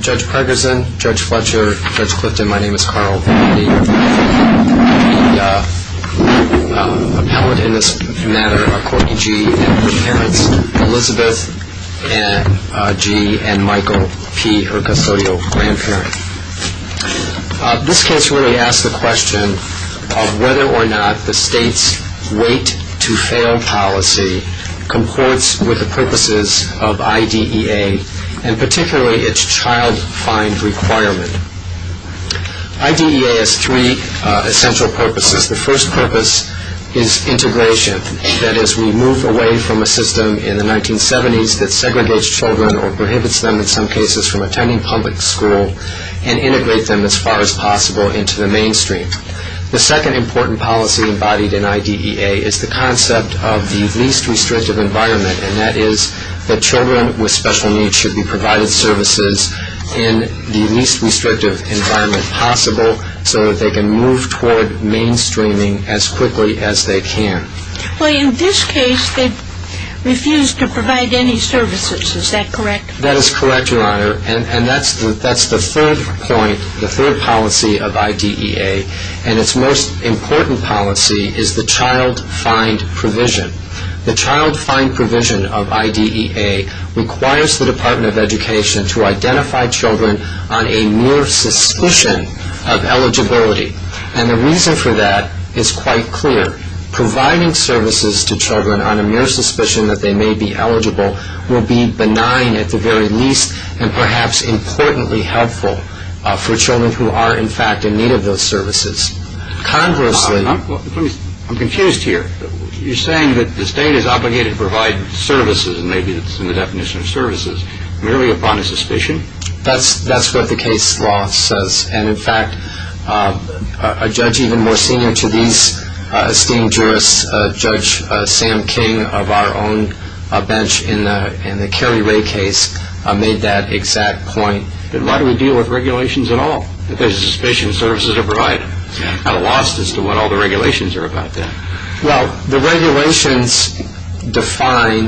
Judge Pregersen, Judge Fletcher, Judge Clifton, my name is Carl. The appellant in this matter are Courtney G. and her parents, Elizabeth G. and Michael P., her custodial grandparent. This case really asks the question of whether or not the state's wait-to-fail policy comports with the purposes of IDEA and particularly its child-find requirement. IDEA has three essential purposes. The first purpose is integration. That is, we move away from a system in the 1970s that segregates children or prohibits them in some cases from attending public school and integrate them as far as possible into the mainstream. The second important policy embodied in IDEA is the concept of the least restrictive environment, and that is that children with special needs should be provided services in the least restrictive environment possible so that they can move toward mainstreaming as quickly as they can. Well, in this case, they refused to provide any services. Is that correct? That is correct, Your Honor. And that's the third point, the third policy of IDEA. And its most important policy is the child-find provision. The child-find provision of IDEA requires the Department of Education to identify children on a mere suspicion of eligibility. And the reason for that is quite clear. Providing services to children on a mere suspicion that they may be eligible will be benign at the very least and perhaps importantly helpful for children who are, in fact, in need of those services. I'm confused here. You're saying that the state is obligated to provide services, and maybe that's in the definition of services, merely upon a suspicion? That's what the case law says. And, in fact, a judge even more senior to these esteemed jurists, Judge Sam King of our own bench in the Carrie Rae case, made that exact point. Then why do we deal with regulations at all? Because suspicion of services are provided. I'm kind of lost as to what all the regulations are about then. Well, the regulations define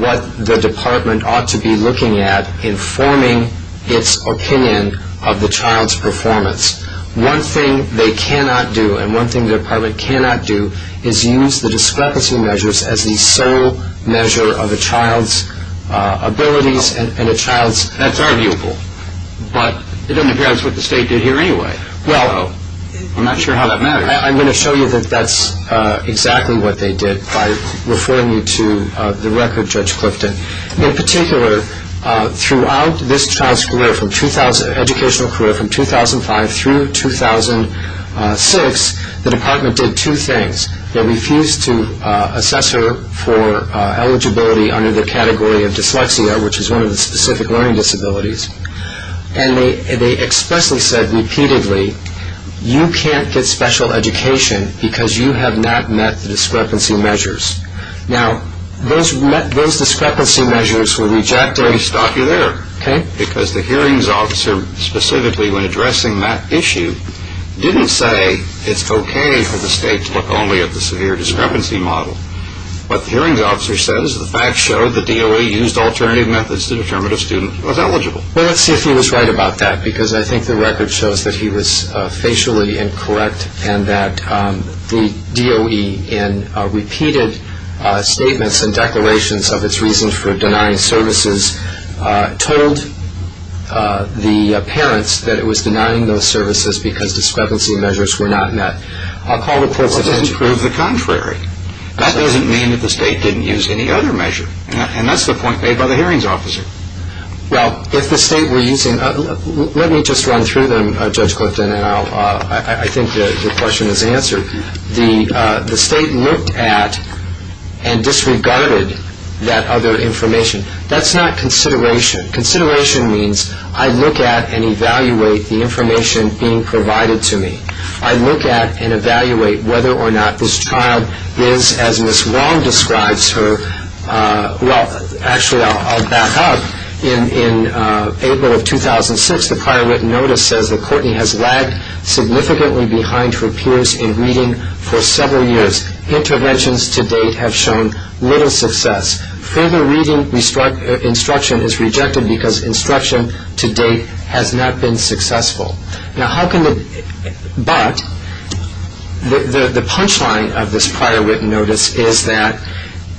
what the department ought to be looking at in forming its opinion of the child's performance. One thing they cannot do, and one thing the department cannot do, is use the discrepancy measures as the sole measure of a child's abilities and a But it doesn't appear that's what the state did here anyway. Well, I'm not sure how that matters. I'm going to show you that that's exactly what they did by referring you to the record, Judge Clifton. In particular, throughout this child's educational career from 2005 through 2006, the department did two things. They refused to assess her for eligibility under the category of dyslexia, which is one of the specific learning disabilities. And they expressly said repeatedly, you can't get special education because you have not met the discrepancy measures. Now, those discrepancy measures were rejected. Let me stop you there. Okay. Because the hearings officer specifically when addressing that issue didn't say it's okay for the state to look only at the severe discrepancy model. But the hearings officer says the facts show the DOE used alternative methods to determine if a student was eligible. Well, let's see if he was right about that, because I think the record shows that he was facially incorrect and that the DOE in repeated statements and declarations of its reasons for denying services told the parents that it was denying those services because discrepancy measures were not met. Well, that doesn't prove the contrary. That doesn't mean that the state didn't use any other measure. And that's the point made by the hearings officer. Well, if the state were using, let me just run through them, Judge Clifton, and I think the question is answered. The state looked at and disregarded that other information. That's not consideration. Consideration means I look at and evaluate the information being This child is, as Ms. Wong describes her, well, actually, I'll back up. In April of 2006, the prior written notice says that Courtney has lagged significantly behind her peers in reading for several years. Interventions to date have shown little success. Further reading instruction is rejected because instruction to date has not been successful. But the punchline of this prior written notice is that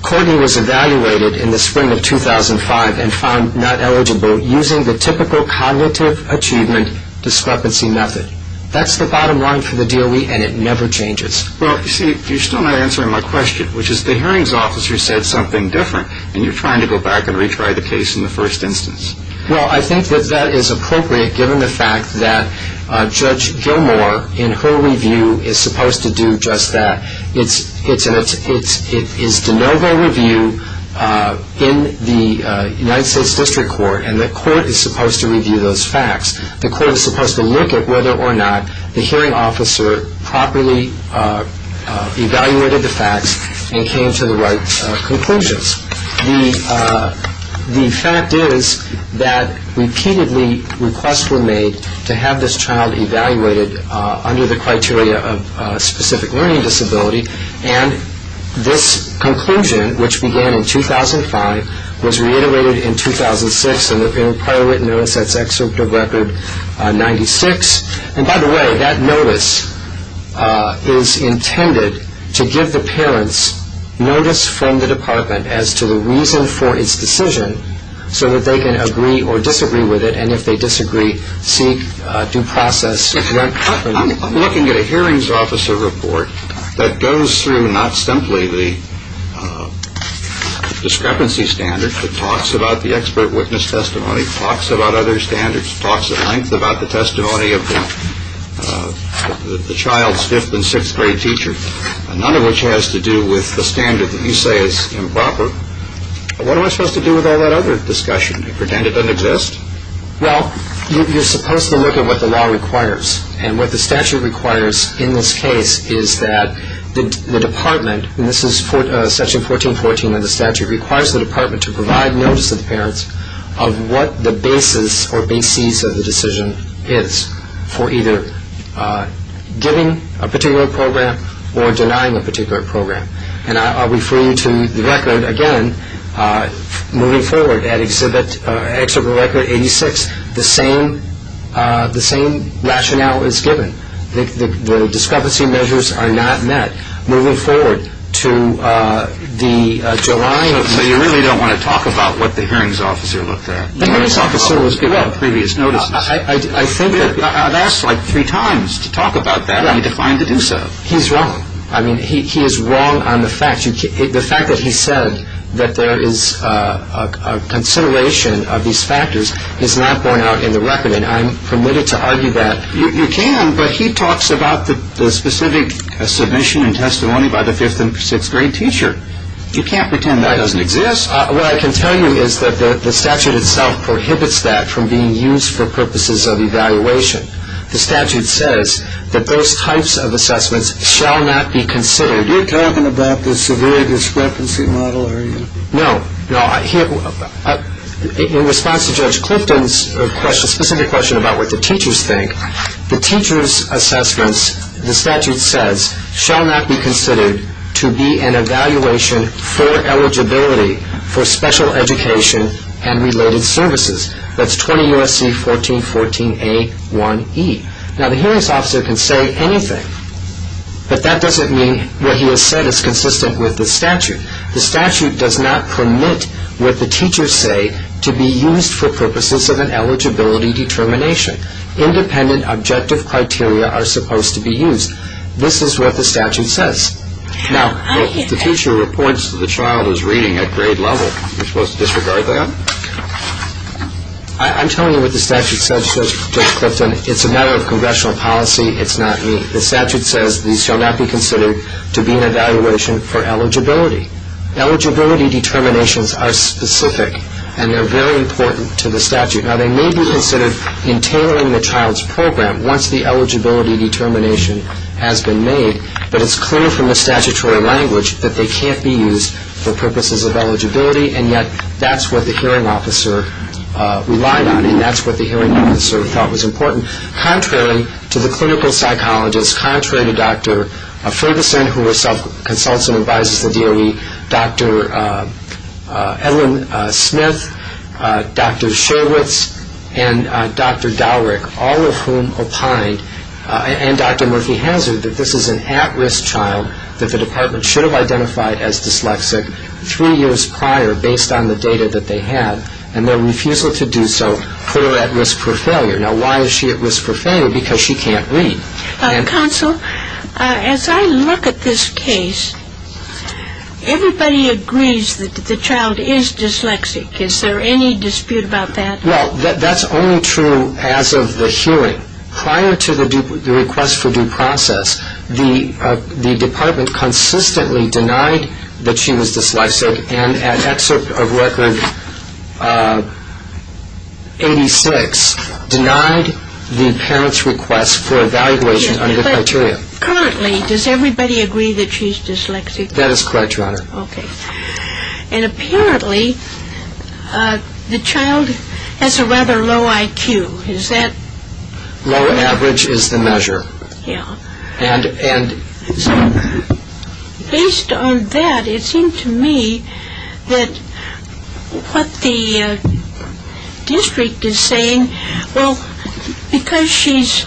Courtney was evaluated in the spring of 2005 and found not eligible using the typical cognitive achievement discrepancy method. That's the bottom line for the DOE, and it never changes. Well, you see, you're still not answering my question, which is the hearings officer said something different, and you're trying to go back and retry the case in the first instance. Well, I think that that is appropriate given the fact that Judge Gilmour, in her review, is supposed to do just that. It's de novo review in the United States District Court, and the court is supposed to review those facts. The court is supposed to look at whether or not the hearing officer properly evaluated the facts and came to the right conclusions. The fact is that repeatedly requests were made to have this child evaluated under the criteria of specific learning disability, and this conclusion, which began in 2005, was reiterated in 2006 in the prior written notice. That's Excerpt of Record 96. And by the way, that notice is intended to give the parents notice from the department as to the reason for its decision so that they can agree or disagree with it, and if they disagree, seek due process. I'm looking at a hearings officer report that goes through not simply the discrepancy standards, but talks about the expert witness testimony, talks about other standards, talks at length about the testimony of the child's fifth and sixth grade teacher, none of which has to do with the standard that you say is improper. What am I supposed to do with all that other discussion? Pretend it doesn't exist? Well, you're supposed to look at what the law requires, and what the statute requires in this case is that the department, and this is Section 1414 of the statute, requires the department to provide notice to the parents of what the basis or bases of the decision is for either giving a particular program or denying a particular program. And I'll refer you to the record again, moving forward at Excerpt of Record 86, the same rationale is given. The discrepancy measures are not met. So you really don't want to talk about what the hearings officer looked at? The hearings officer was good. I've asked like three times to talk about that. I'm defined to do so. He's wrong. I mean, he is wrong on the fact that he said that there is a consideration of these factors is not borne out in the record, and I'm permitted to argue that. You can, but he talks about the specific submission and testimony by the fifth and sixth grade teacher. You can't pretend that doesn't exist. What I can tell you is that the statute itself prohibits that from being used for purposes of evaluation. The statute says that those types of assessments shall not be considered. You're talking about the severe discrepancy model, are you? No. In response to Judge Clifton's specific question about what the teachers think, the teachers' assessments, the statute says, shall not be considered to be an evaluation for eligibility for special education and related services. That's 20 U.S.C. 1414a1e. Now, the hearings officer can say anything, but that doesn't mean what he has said is what the teachers say to be used for purposes of an eligibility determination. Independent objective criteria are supposed to be used. This is what the statute says. Now, if the teacher reports that the child is reading at grade level, you're supposed to disregard that? I'm telling you what the statute says, Judge Clifton. It's a matter of congressional policy. It's not me. The statute says these shall not be considered to be an evaluation for eligibility. Eligibility determinations are specific, and they're very important to the statute. Now, they may be considered in tailoring the child's program once the eligibility determination has been made, but it's clear from the statutory language that they can't be used for purposes of eligibility, and yet that's what the hearing officer relied on, and that's what the hearing officer thought was important. Contrary to the clinical psychologist, contrary to Dr. Ferguson, who herself consults and advises the DOE, Dr. Ellen Smith, Dr. Sherwitz, and Dr. Dowrick, all of whom opined, and Dr. Murphy Hanzard, that this is an at-risk child that the department should have identified as dyslexic three years prior based on the data that they had, and their refusal to do so put her at risk for failure. Now, why is she at risk for failure? Because she can't read. Counsel, as I look at this case, everybody agrees that the child is dyslexic. Is there any dispute about that? Well, that's only true as of the hearing. Prior to the request for due process, the 86 denied the parent's request for evaluation under the criteria. Currently, does everybody agree that she's dyslexic? That is correct, Your Honor. Okay. And apparently, the child has a rather low IQ. Is that? Low average is the measure. Yeah. Based on that, it seems to me that what the district is saying, well, because she's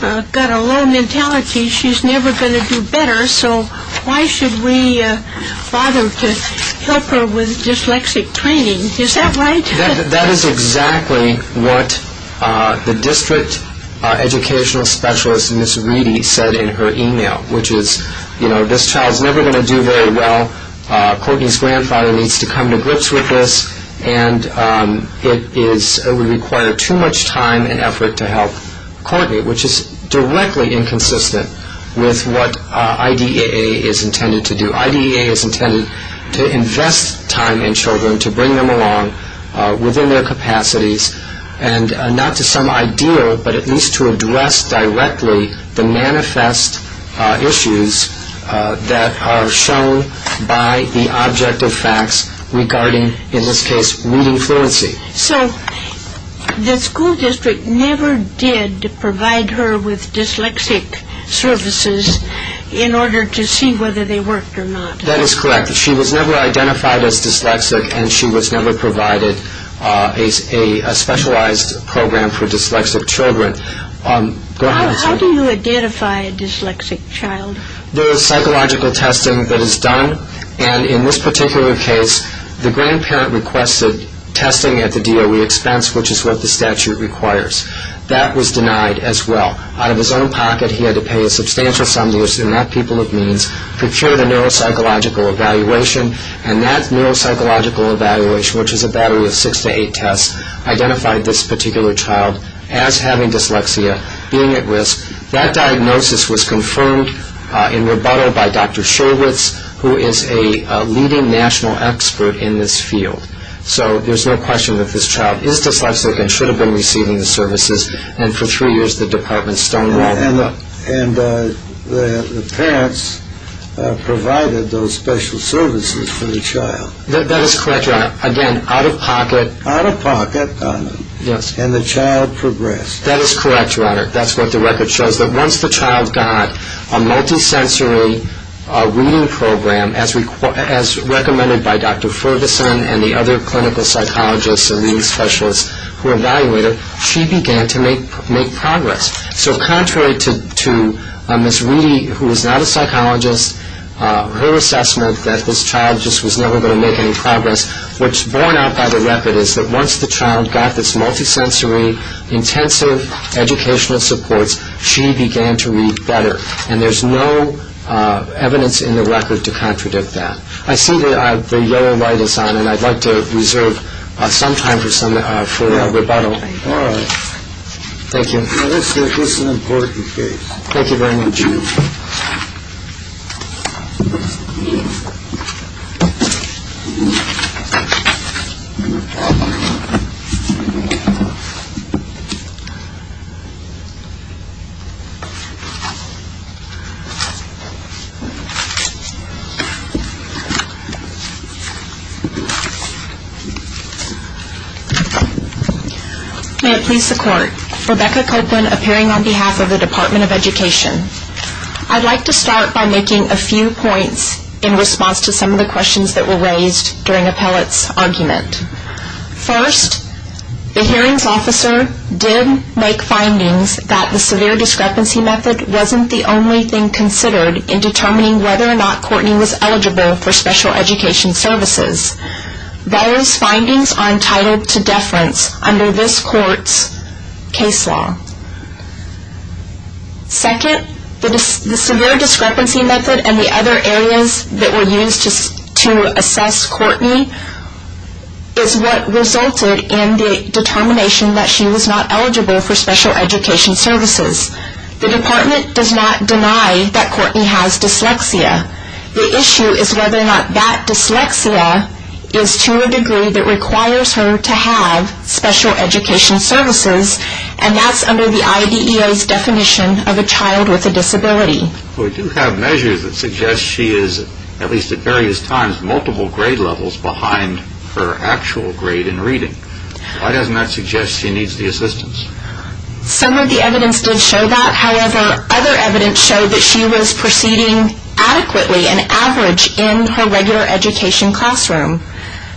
got a low mentality, she's never going to do better, so why should we bother to help her with dyslexic training? Is that right? That is exactly what the district educational specialist, Ms. Reedy, said in her email, which is, you know, this child's never going to do very well. Courtney's grandfather needs to come to grips with this, and it would require too much time and effort to help Courtney, which is directly inconsistent with what IDAA is intended to do. IDAA is intended to invest time in children, to bring them along within their capacities, and not to some ideal, but at least to address directly the manifest issues that are shown by the object of facts regarding, in this case, reading fluency. So the school district never did provide her with dyslexic services in order to see whether they worked or not. That is correct. She was never identified as dyslexic, and she was never provided a specialized program for dyslexic children. How do you identify a dyslexic child? There is psychological testing that is done, and in this particular case, the grandparent requested testing at the DOE expense, which is what the statute requires. That was denied as well. Out of his own pocket, he had to pay a substantial sum of money, and that people of means, procure the neuropsychological evaluation, and that neuropsychological evaluation, which is a battery of six to eight tests, identified this particular child as having dyslexia, being at risk. That diagnosis was confirmed in rebuttal by Dr. Sherwitz, who is a leading national expert in this field. So there is no question that this child is dyslexic and should have been receiving the services, and for three years the department stonewalled it. And the parents provided those special services for the child. That is correct, Your Honor. Again, out of pocket. Out of pocket, and the child progressed. That is correct, Your Honor. That is what the record shows, that once the child got a multisensory reading program as recommended by Dr. Ferguson and the other clinical psychologists and leading specialists who evaluated, she began to make progress. So contrary to Ms. Reedy, who is not a psychologist, her assessment that this child just was never going to make any progress, what's borne out by the record is that once the child got this multisensory, intensive educational supports, she began to read better. And there's no evidence in the record to contradict that. I see the yellow light is on, and I'd like to reserve some time for rebuttal. All right. Thank you. This is an important case. Thank you very much. May it please the Court. Rebecca Copeland, appearing on behalf of the Department of Education. I'd like to start by making a few points in response to some of the questions that were raised during Appellate's argument. First, the hearings officer did make findings that the severe discrepancy method wasn't the only thing considered in determining whether or not Courtenay was eligible for special education services. Those findings are entitled to deference under this Court's case law. Second, the severe discrepancy method and the other areas that were used to assess Courtenay is what resulted in the determination that she was not eligible for special education services. The Department does not deny that Courtenay has dyslexia. The issue is whether or not that dyslexia is to a degree that requires her to have special education services, and that's under the IDEA's definition of a child with a disability. We do have measures that suggest she is, at least at various times, multiple grade levels behind her actual grade in reading. Why doesn't that suggest she needs the assistance? Some of the evidence did show that. However, other evidence showed that she was proceeding adequately and average in her regular education classroom.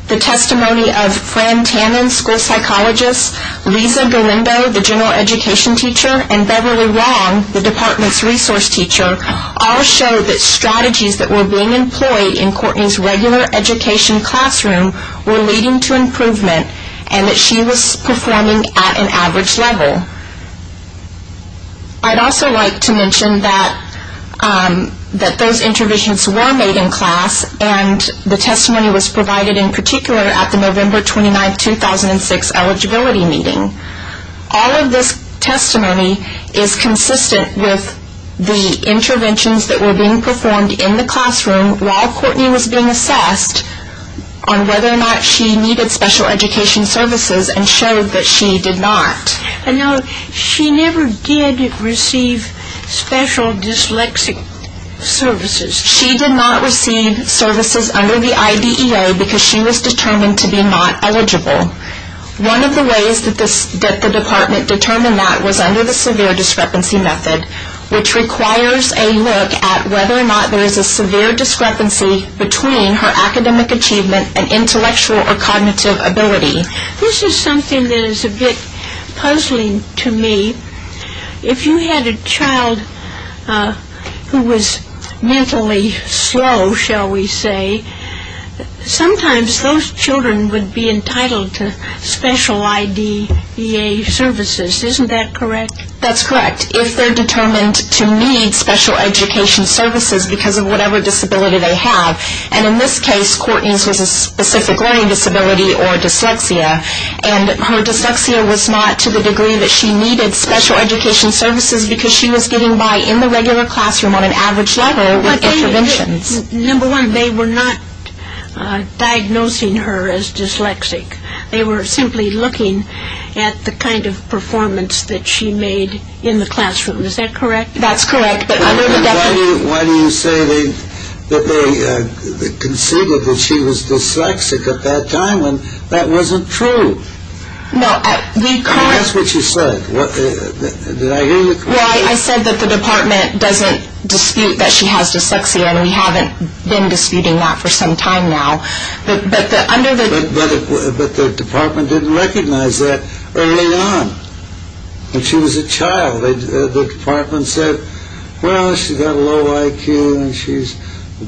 The testimony of Fran Tannin, school psychologist, Lisa Berlindo, the general education teacher, and Beverly Wong, the Department's resource teacher, all showed that strategies that were being employed in Courtenay's regular education classroom were leading to improvement and that she was performing at an average level. I'd also like to mention that those interventions were made in class and the testimony was provided in particular at the November 29, 2006 eligibility meeting. All of this testimony is consistent with the interventions that were being performed in the classroom while Courtenay was being assessed on whether or not she needed special education services and showed that she did not. And she never did receive special dyslexic services? She did not receive services under the IDEA because she was determined to be not eligible. One of the ways that the Department determined that was under the severe discrepancy method, which requires a look at whether or not there is a severe discrepancy between her academic achievement and intellectual or cognitive ability. This is something that is a bit puzzling to me. If you had a child who was mentally slow, shall we say, sometimes those children would be entitled to special IDEA services. Isn't that correct? That's correct. If they're determined to need special education services because of whatever disability they have. And in this case, Courtenay's was a specific learning disability or dyslexia. And her dyslexia was not to the degree that she needed special education services because she was getting by in the regular classroom on an average level with interventions. Number one, they were not diagnosing her as dyslexic. They were simply looking at the kind of classroom. Is that correct? That's correct. Why do you say that they conceived that she was dyslexic at that time when that wasn't true? That's what you said. Did I hear you correctly? Well, I said that the Department doesn't dispute that she has dyslexia and we haven't been disputing that for some time now. But the Department didn't recognize that early on when she was a child. The Department said, well, she's got a low IQ and she's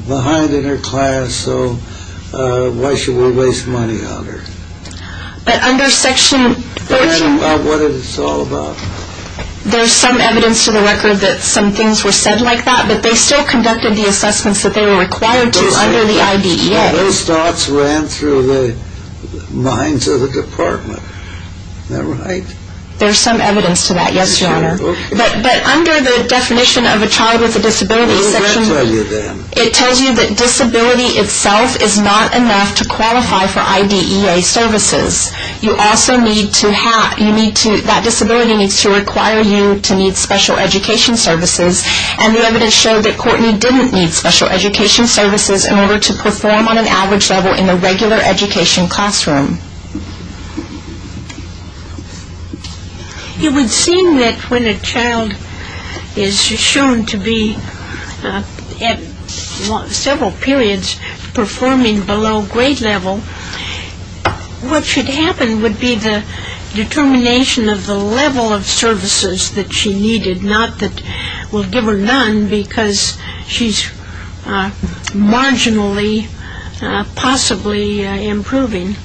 behind in her class, so why should we waste money on her? But under Section 13... What is it all about? There's some evidence to the record that some things were said like that, but they still conducted the assessments that they were required to under the IDEA. Those thoughts ran through the minds of the Department. Am I right? There's some evidence to that, yes, Your Honor. Okay. But under the definition of a child with a disability section... What does that tell you then? It tells you that disability itself is not enough to qualify for IDEA services. You also need to have... that disability needs to require you to need special education services and the evidence showed that Courtney didn't need special education services in order to perform on an average level in a regular education classroom. It would seem that when a child is shown to be at several periods performing below grade level, what should happen would be the determination of the level of services that she needed, not that we'll give her none because she's marginally possibly improving.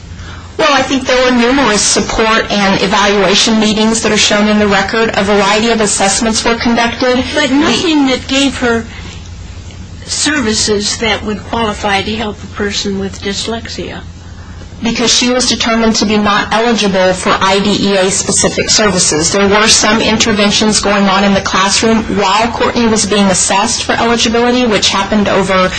Well, I think there were numerous support and evaluation meetings that are shown in the record. A variety of assessments were conducted. But nothing that gave her services that would qualify to help a person with dyslexia. Because she was determined to be not eligible for IDEA-specific services. There were some interventions going on in the classroom while Courtney was being assessed for eligibility, which happened over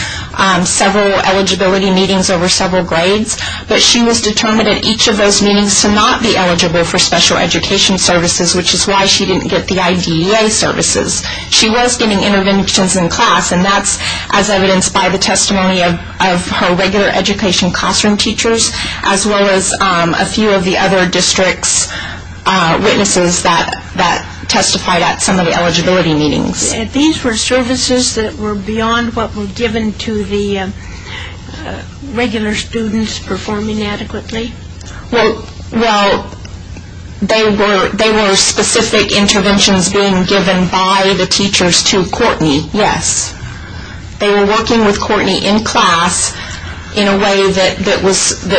several eligibility meetings over several grades. But she was determined at each of those meetings to not be eligible for special education services, which is why she didn't get the IDEA services. She was getting interventions in class, and that's as evidenced by the testimony of her regular education classroom teachers, as well as a few of the other district's witnesses that testified at some of the eligibility meetings. And these were services that were beyond what were given to the regular students performing adequately? Well, they were specific interventions being given by the teachers to Courtney, yes. They were working with Courtney in class in a way that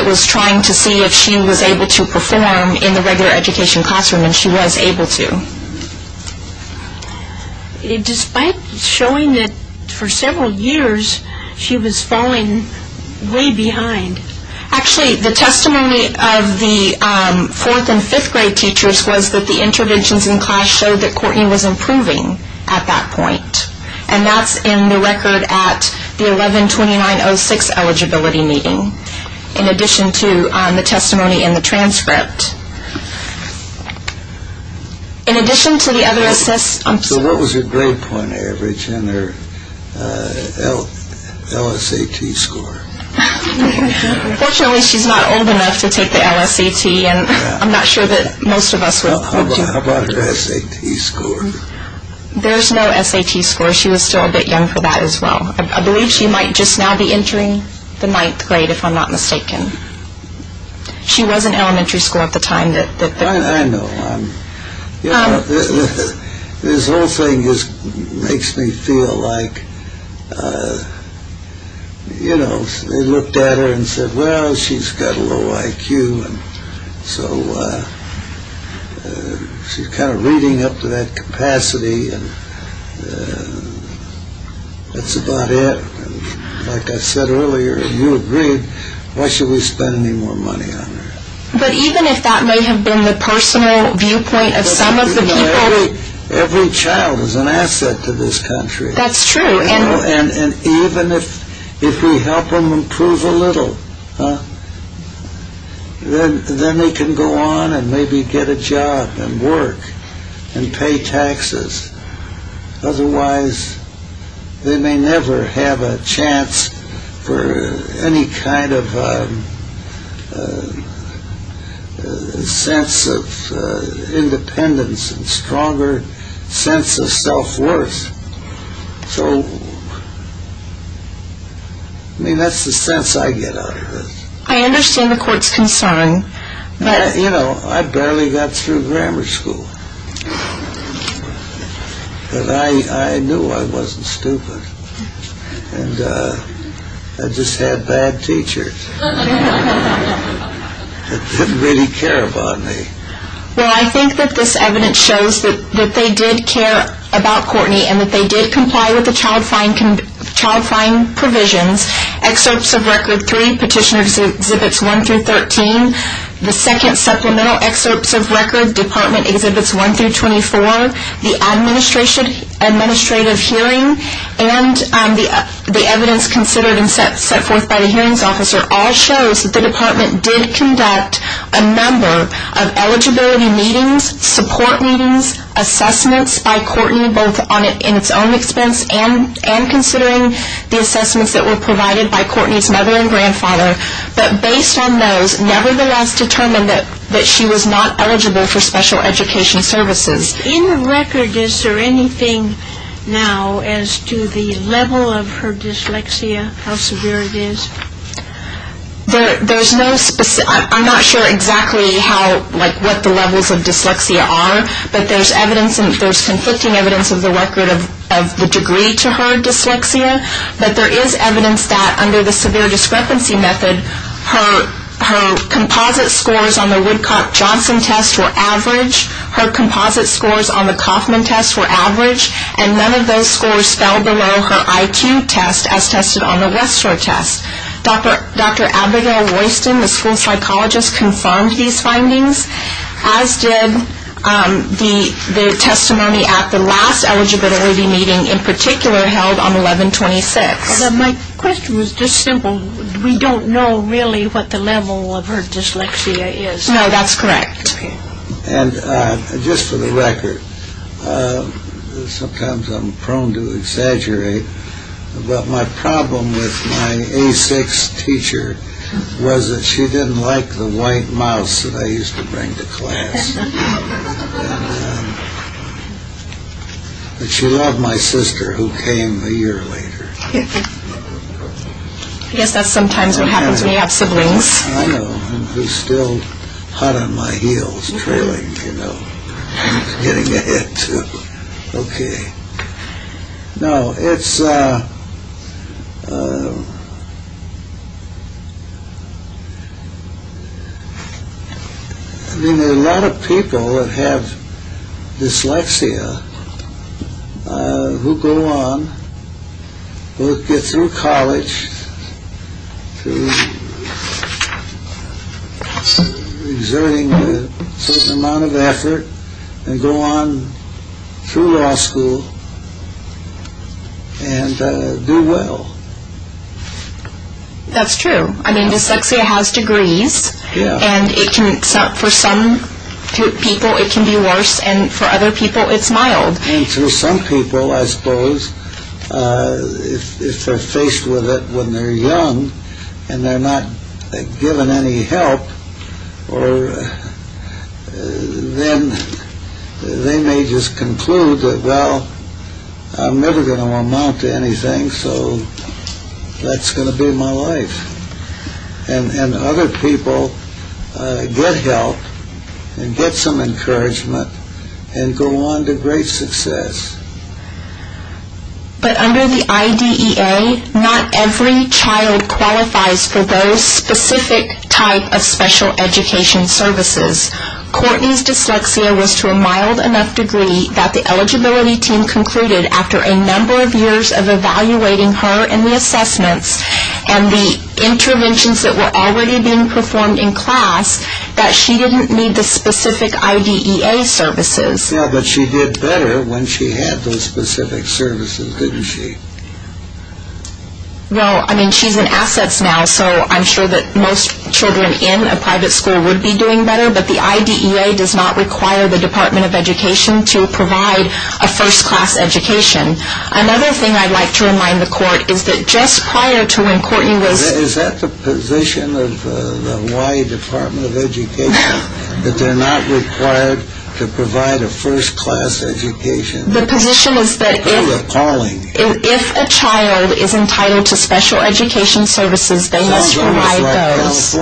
was trying to see if she was able to perform in the regular education classroom, and she was able to. Despite showing that for several years, she was falling way behind. Actually, the testimony of the fourth and fifth grade teachers was that the interventions in class showed that Courtney was improving at that point. And that's in the record at the 11-2906 eligibility meeting, in addition to the testimony in the transcript. So what was her grade point average and her LSAT score? Fortunately, she's not old enough to take the LSAT, and I'm not sure that most of us would want to. How about her SAT score? There's no SAT score. She was still a bit young for that as well. I believe she might just now be entering the ninth grade, if I'm not mistaken. She was in elementary school at the time. I know. This whole thing just makes me feel like, you know, they looked at her and said, well, she's got a low IQ. So she's kind of reading up to that capacity, and that's about it. Like I said earlier, if you agreed, why should we spend any more money on her? But even if that may have been the personal viewpoint of some of the people... Every child is an asset to this country. That's true. And even if we help them improve a little, then they can go on and maybe get a job and work and pay taxes. Otherwise, they may never have a chance for any kind of sense of independence and stronger sense of self-worth. So, I mean, that's the sense I get out of this. I understand the court's concern, but... You know, I barely got through grammar school, but I knew I wasn't stupid. And I just had bad teachers that didn't really care about me. Well, I think that this evidence shows that they did care about Courtney and that they did comply with the child-fine provisions. Excerpts of Record 3, Petitioners' Exhibits 1 through 13, the second supplemental excerpts of Record, Department Exhibits 1 through 24, the administrative hearing, and the evidence considered and set forth by the hearings officer all shows that the department did conduct a number of eligibility meetings, support meetings, assessments by Courtney, both in its own expense and considering the assessments that were provided by Courtney's mother and grandfather. But based on those, nevertheless determined that she was not eligible for special education services. In the record, is there anything now as to the level of her dyslexia, how severe it is? There's no specific... I'm not sure exactly how, like, what the levels of dyslexia are, but there's evidence and there's conflicting evidence of the record of the degree to her dyslexia. But there is evidence that under the severe discrepancy method, her composite scores on the Woodcock-Johnson test were average. Her composite scores on the Kauffman test were average, and none of those scores fell below her IQ test as tested on the West Shore test. Dr. Abigail Royston, the school psychologist, confirmed these findings, as did the testimony at the last eligibility meeting in particular held on 11-26. My question was just simple. We don't know really what the level of her dyslexia is. No, that's correct. And just for the record, sometimes I'm prone to exaggerate, but my problem with my A6 teacher was that she didn't like the white mouse that I used to bring to class. But she loved my sister who came a year later. I guess that's sometimes what happens when you have siblings. I know, and who's still hot on my heels, trailing, you know, getting ahead, too. Okay. No, it's... I mean, there are a lot of people that have dyslexia who go on, get through college through exerting a certain amount of effort, and go on through law school and do well. That's true. I mean, dyslexia has degrees, and for some people it can be worse, and for other people it's mild. And for some people, I suppose, if they're faced with it when they're young and they're not given any help, then they may just conclude that, well, I'm never going to amount to anything, so that's going to be my life. And other people get help and get some encouragement and go on to great success. But under the IDEA, not every child qualifies for those specific type of special education services. Courtney's dyslexia was to a mild enough degree that the eligibility team concluded after a number of years of evaluating her in the assessments and the interventions that were already being performed in class, that she didn't need the specific IDEA services. Yeah, but she did better when she had those specific services, didn't she? Well, I mean, she's in assets now, so I'm sure that most children in a private school would be doing better, but the IDEA does not require the Department of Education to provide a first-class education. Another thing I'd like to remind the court is that just prior to when Courtney was... Is that the position of the Hawaii Department of Education, that they're not required to provide a first-class education? The position is that if a child is entitled to special education services, they must provide those.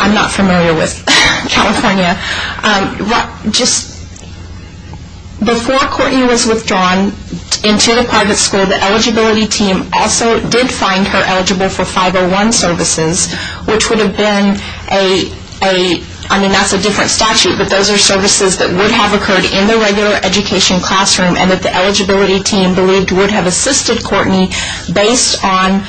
I'm not familiar with California. Before Courtney was withdrawn into the private school, the eligibility team also did find her eligible for 501 services, which would have been a... I mean, that's a different statute, but those are services that would have occurred in the regular education classroom and that the eligibility team believed would have assisted Courtney based on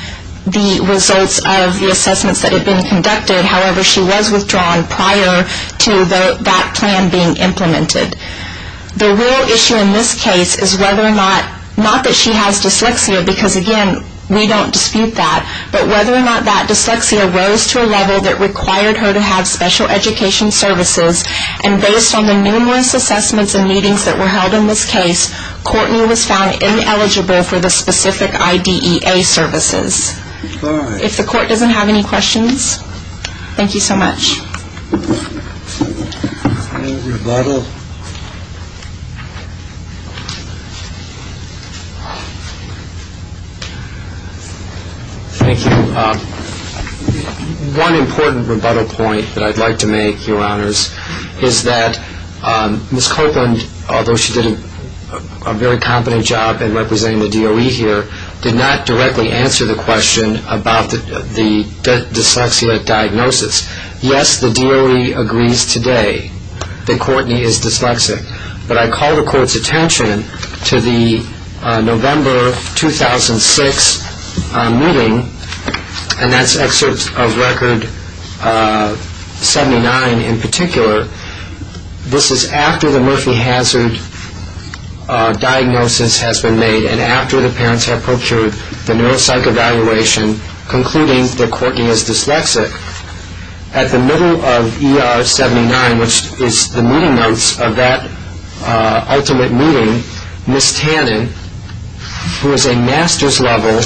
the results of the assessments that had been conducted. However, she was withdrawn prior to that plan being implemented. The real issue in this case is whether or not... Not that she has dyslexia, because, again, we don't dispute that, but whether or not that dyslexia rose to a level that required her to have special education services, and based on the numerous assessments and meetings that were held in this case, Courtney was found ineligible for the specific IDEA services. If the court doesn't have any questions, thank you so much. Any rebuttal? Thank you. One important rebuttal point that I'd like to make, Your Honors, is that Ms. Copeland, although she did a very competent job in representing the DOE here, did not directly answer the question about the dyslexia diagnosis. Yes, the DOE agrees today that Courtney is dyslexic, but I call the court's attention to the November 2006 meeting, and that's excerpt of Record 79 in particular. This is after the Murphy hazard diagnosis has been made and after the parents have procured the neuropsych evaluation concluding that Courtney is dyslexic. At the middle of ER 79, which is the meeting notes of that ultimate meeting, Ms. Tannen, who is a master's level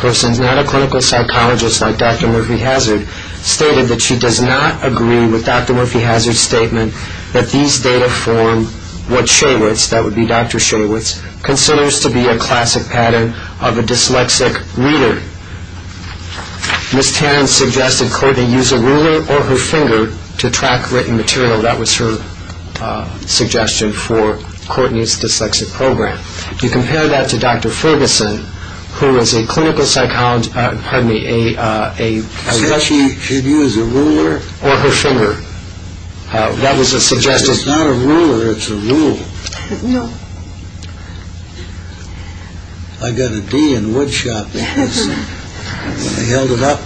person, not a clinical psychologist like Dr. Murphy Hazard, stated that she does not agree with Dr. Murphy Hazard's statement that these data form what Shaywitz, that would be Dr. Shaywitz, considers to be a classic pattern of a dyslexic reader. Ms. Tannen suggested Courtney use a ruler or her finger to track written material. That was her suggestion for Courtney's dyslexic program. You compare that to Dr. Ferguson, who is a clinical psychologist, pardon me, a... Said she should use a ruler? Or her finger. That was a suggestion... It's not a ruler, it's a rule. No. I got a D in woodshop dancing when I held it up.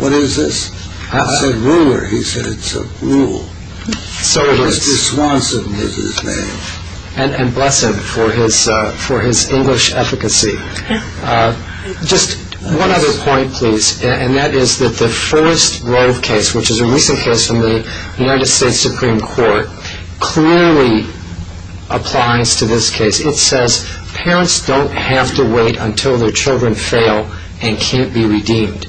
What is this? I said ruler. He said it's a rule. Mr. Swanson is his name. And bless him for his English efficacy. Just one other point, please, and that is that the first Rove case, which is a recent case from the United States Supreme Court, clearly applies to this case. It says parents don't have to wait until their children fail and can't be redeemed.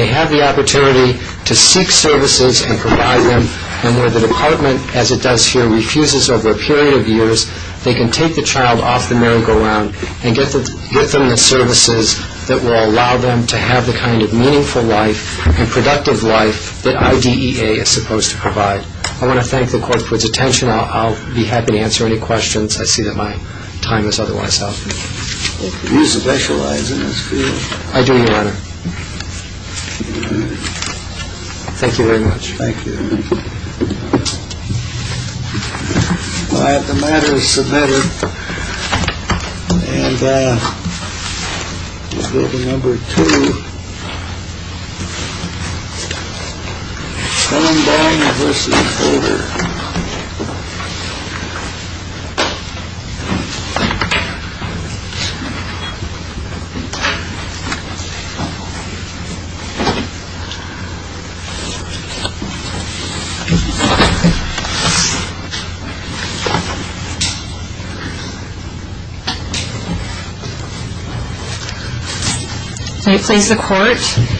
They have the opportunity to seek services and provide them, and where the department, as it does here, refuses over a period of years, they can take the child off the merry-go-round and get them the services that will allow them to have the kind of meaningful life and productive life that IDEA is supposed to provide. I want to thank the Court for its attention. I'll be happy to answer any questions. I see that my time is otherwise up. You specialize in this field. I do, Your Honor. Thank you very much. Thank you. The matter is submitted. And number two. Calm down and listen in order. May it please the Court.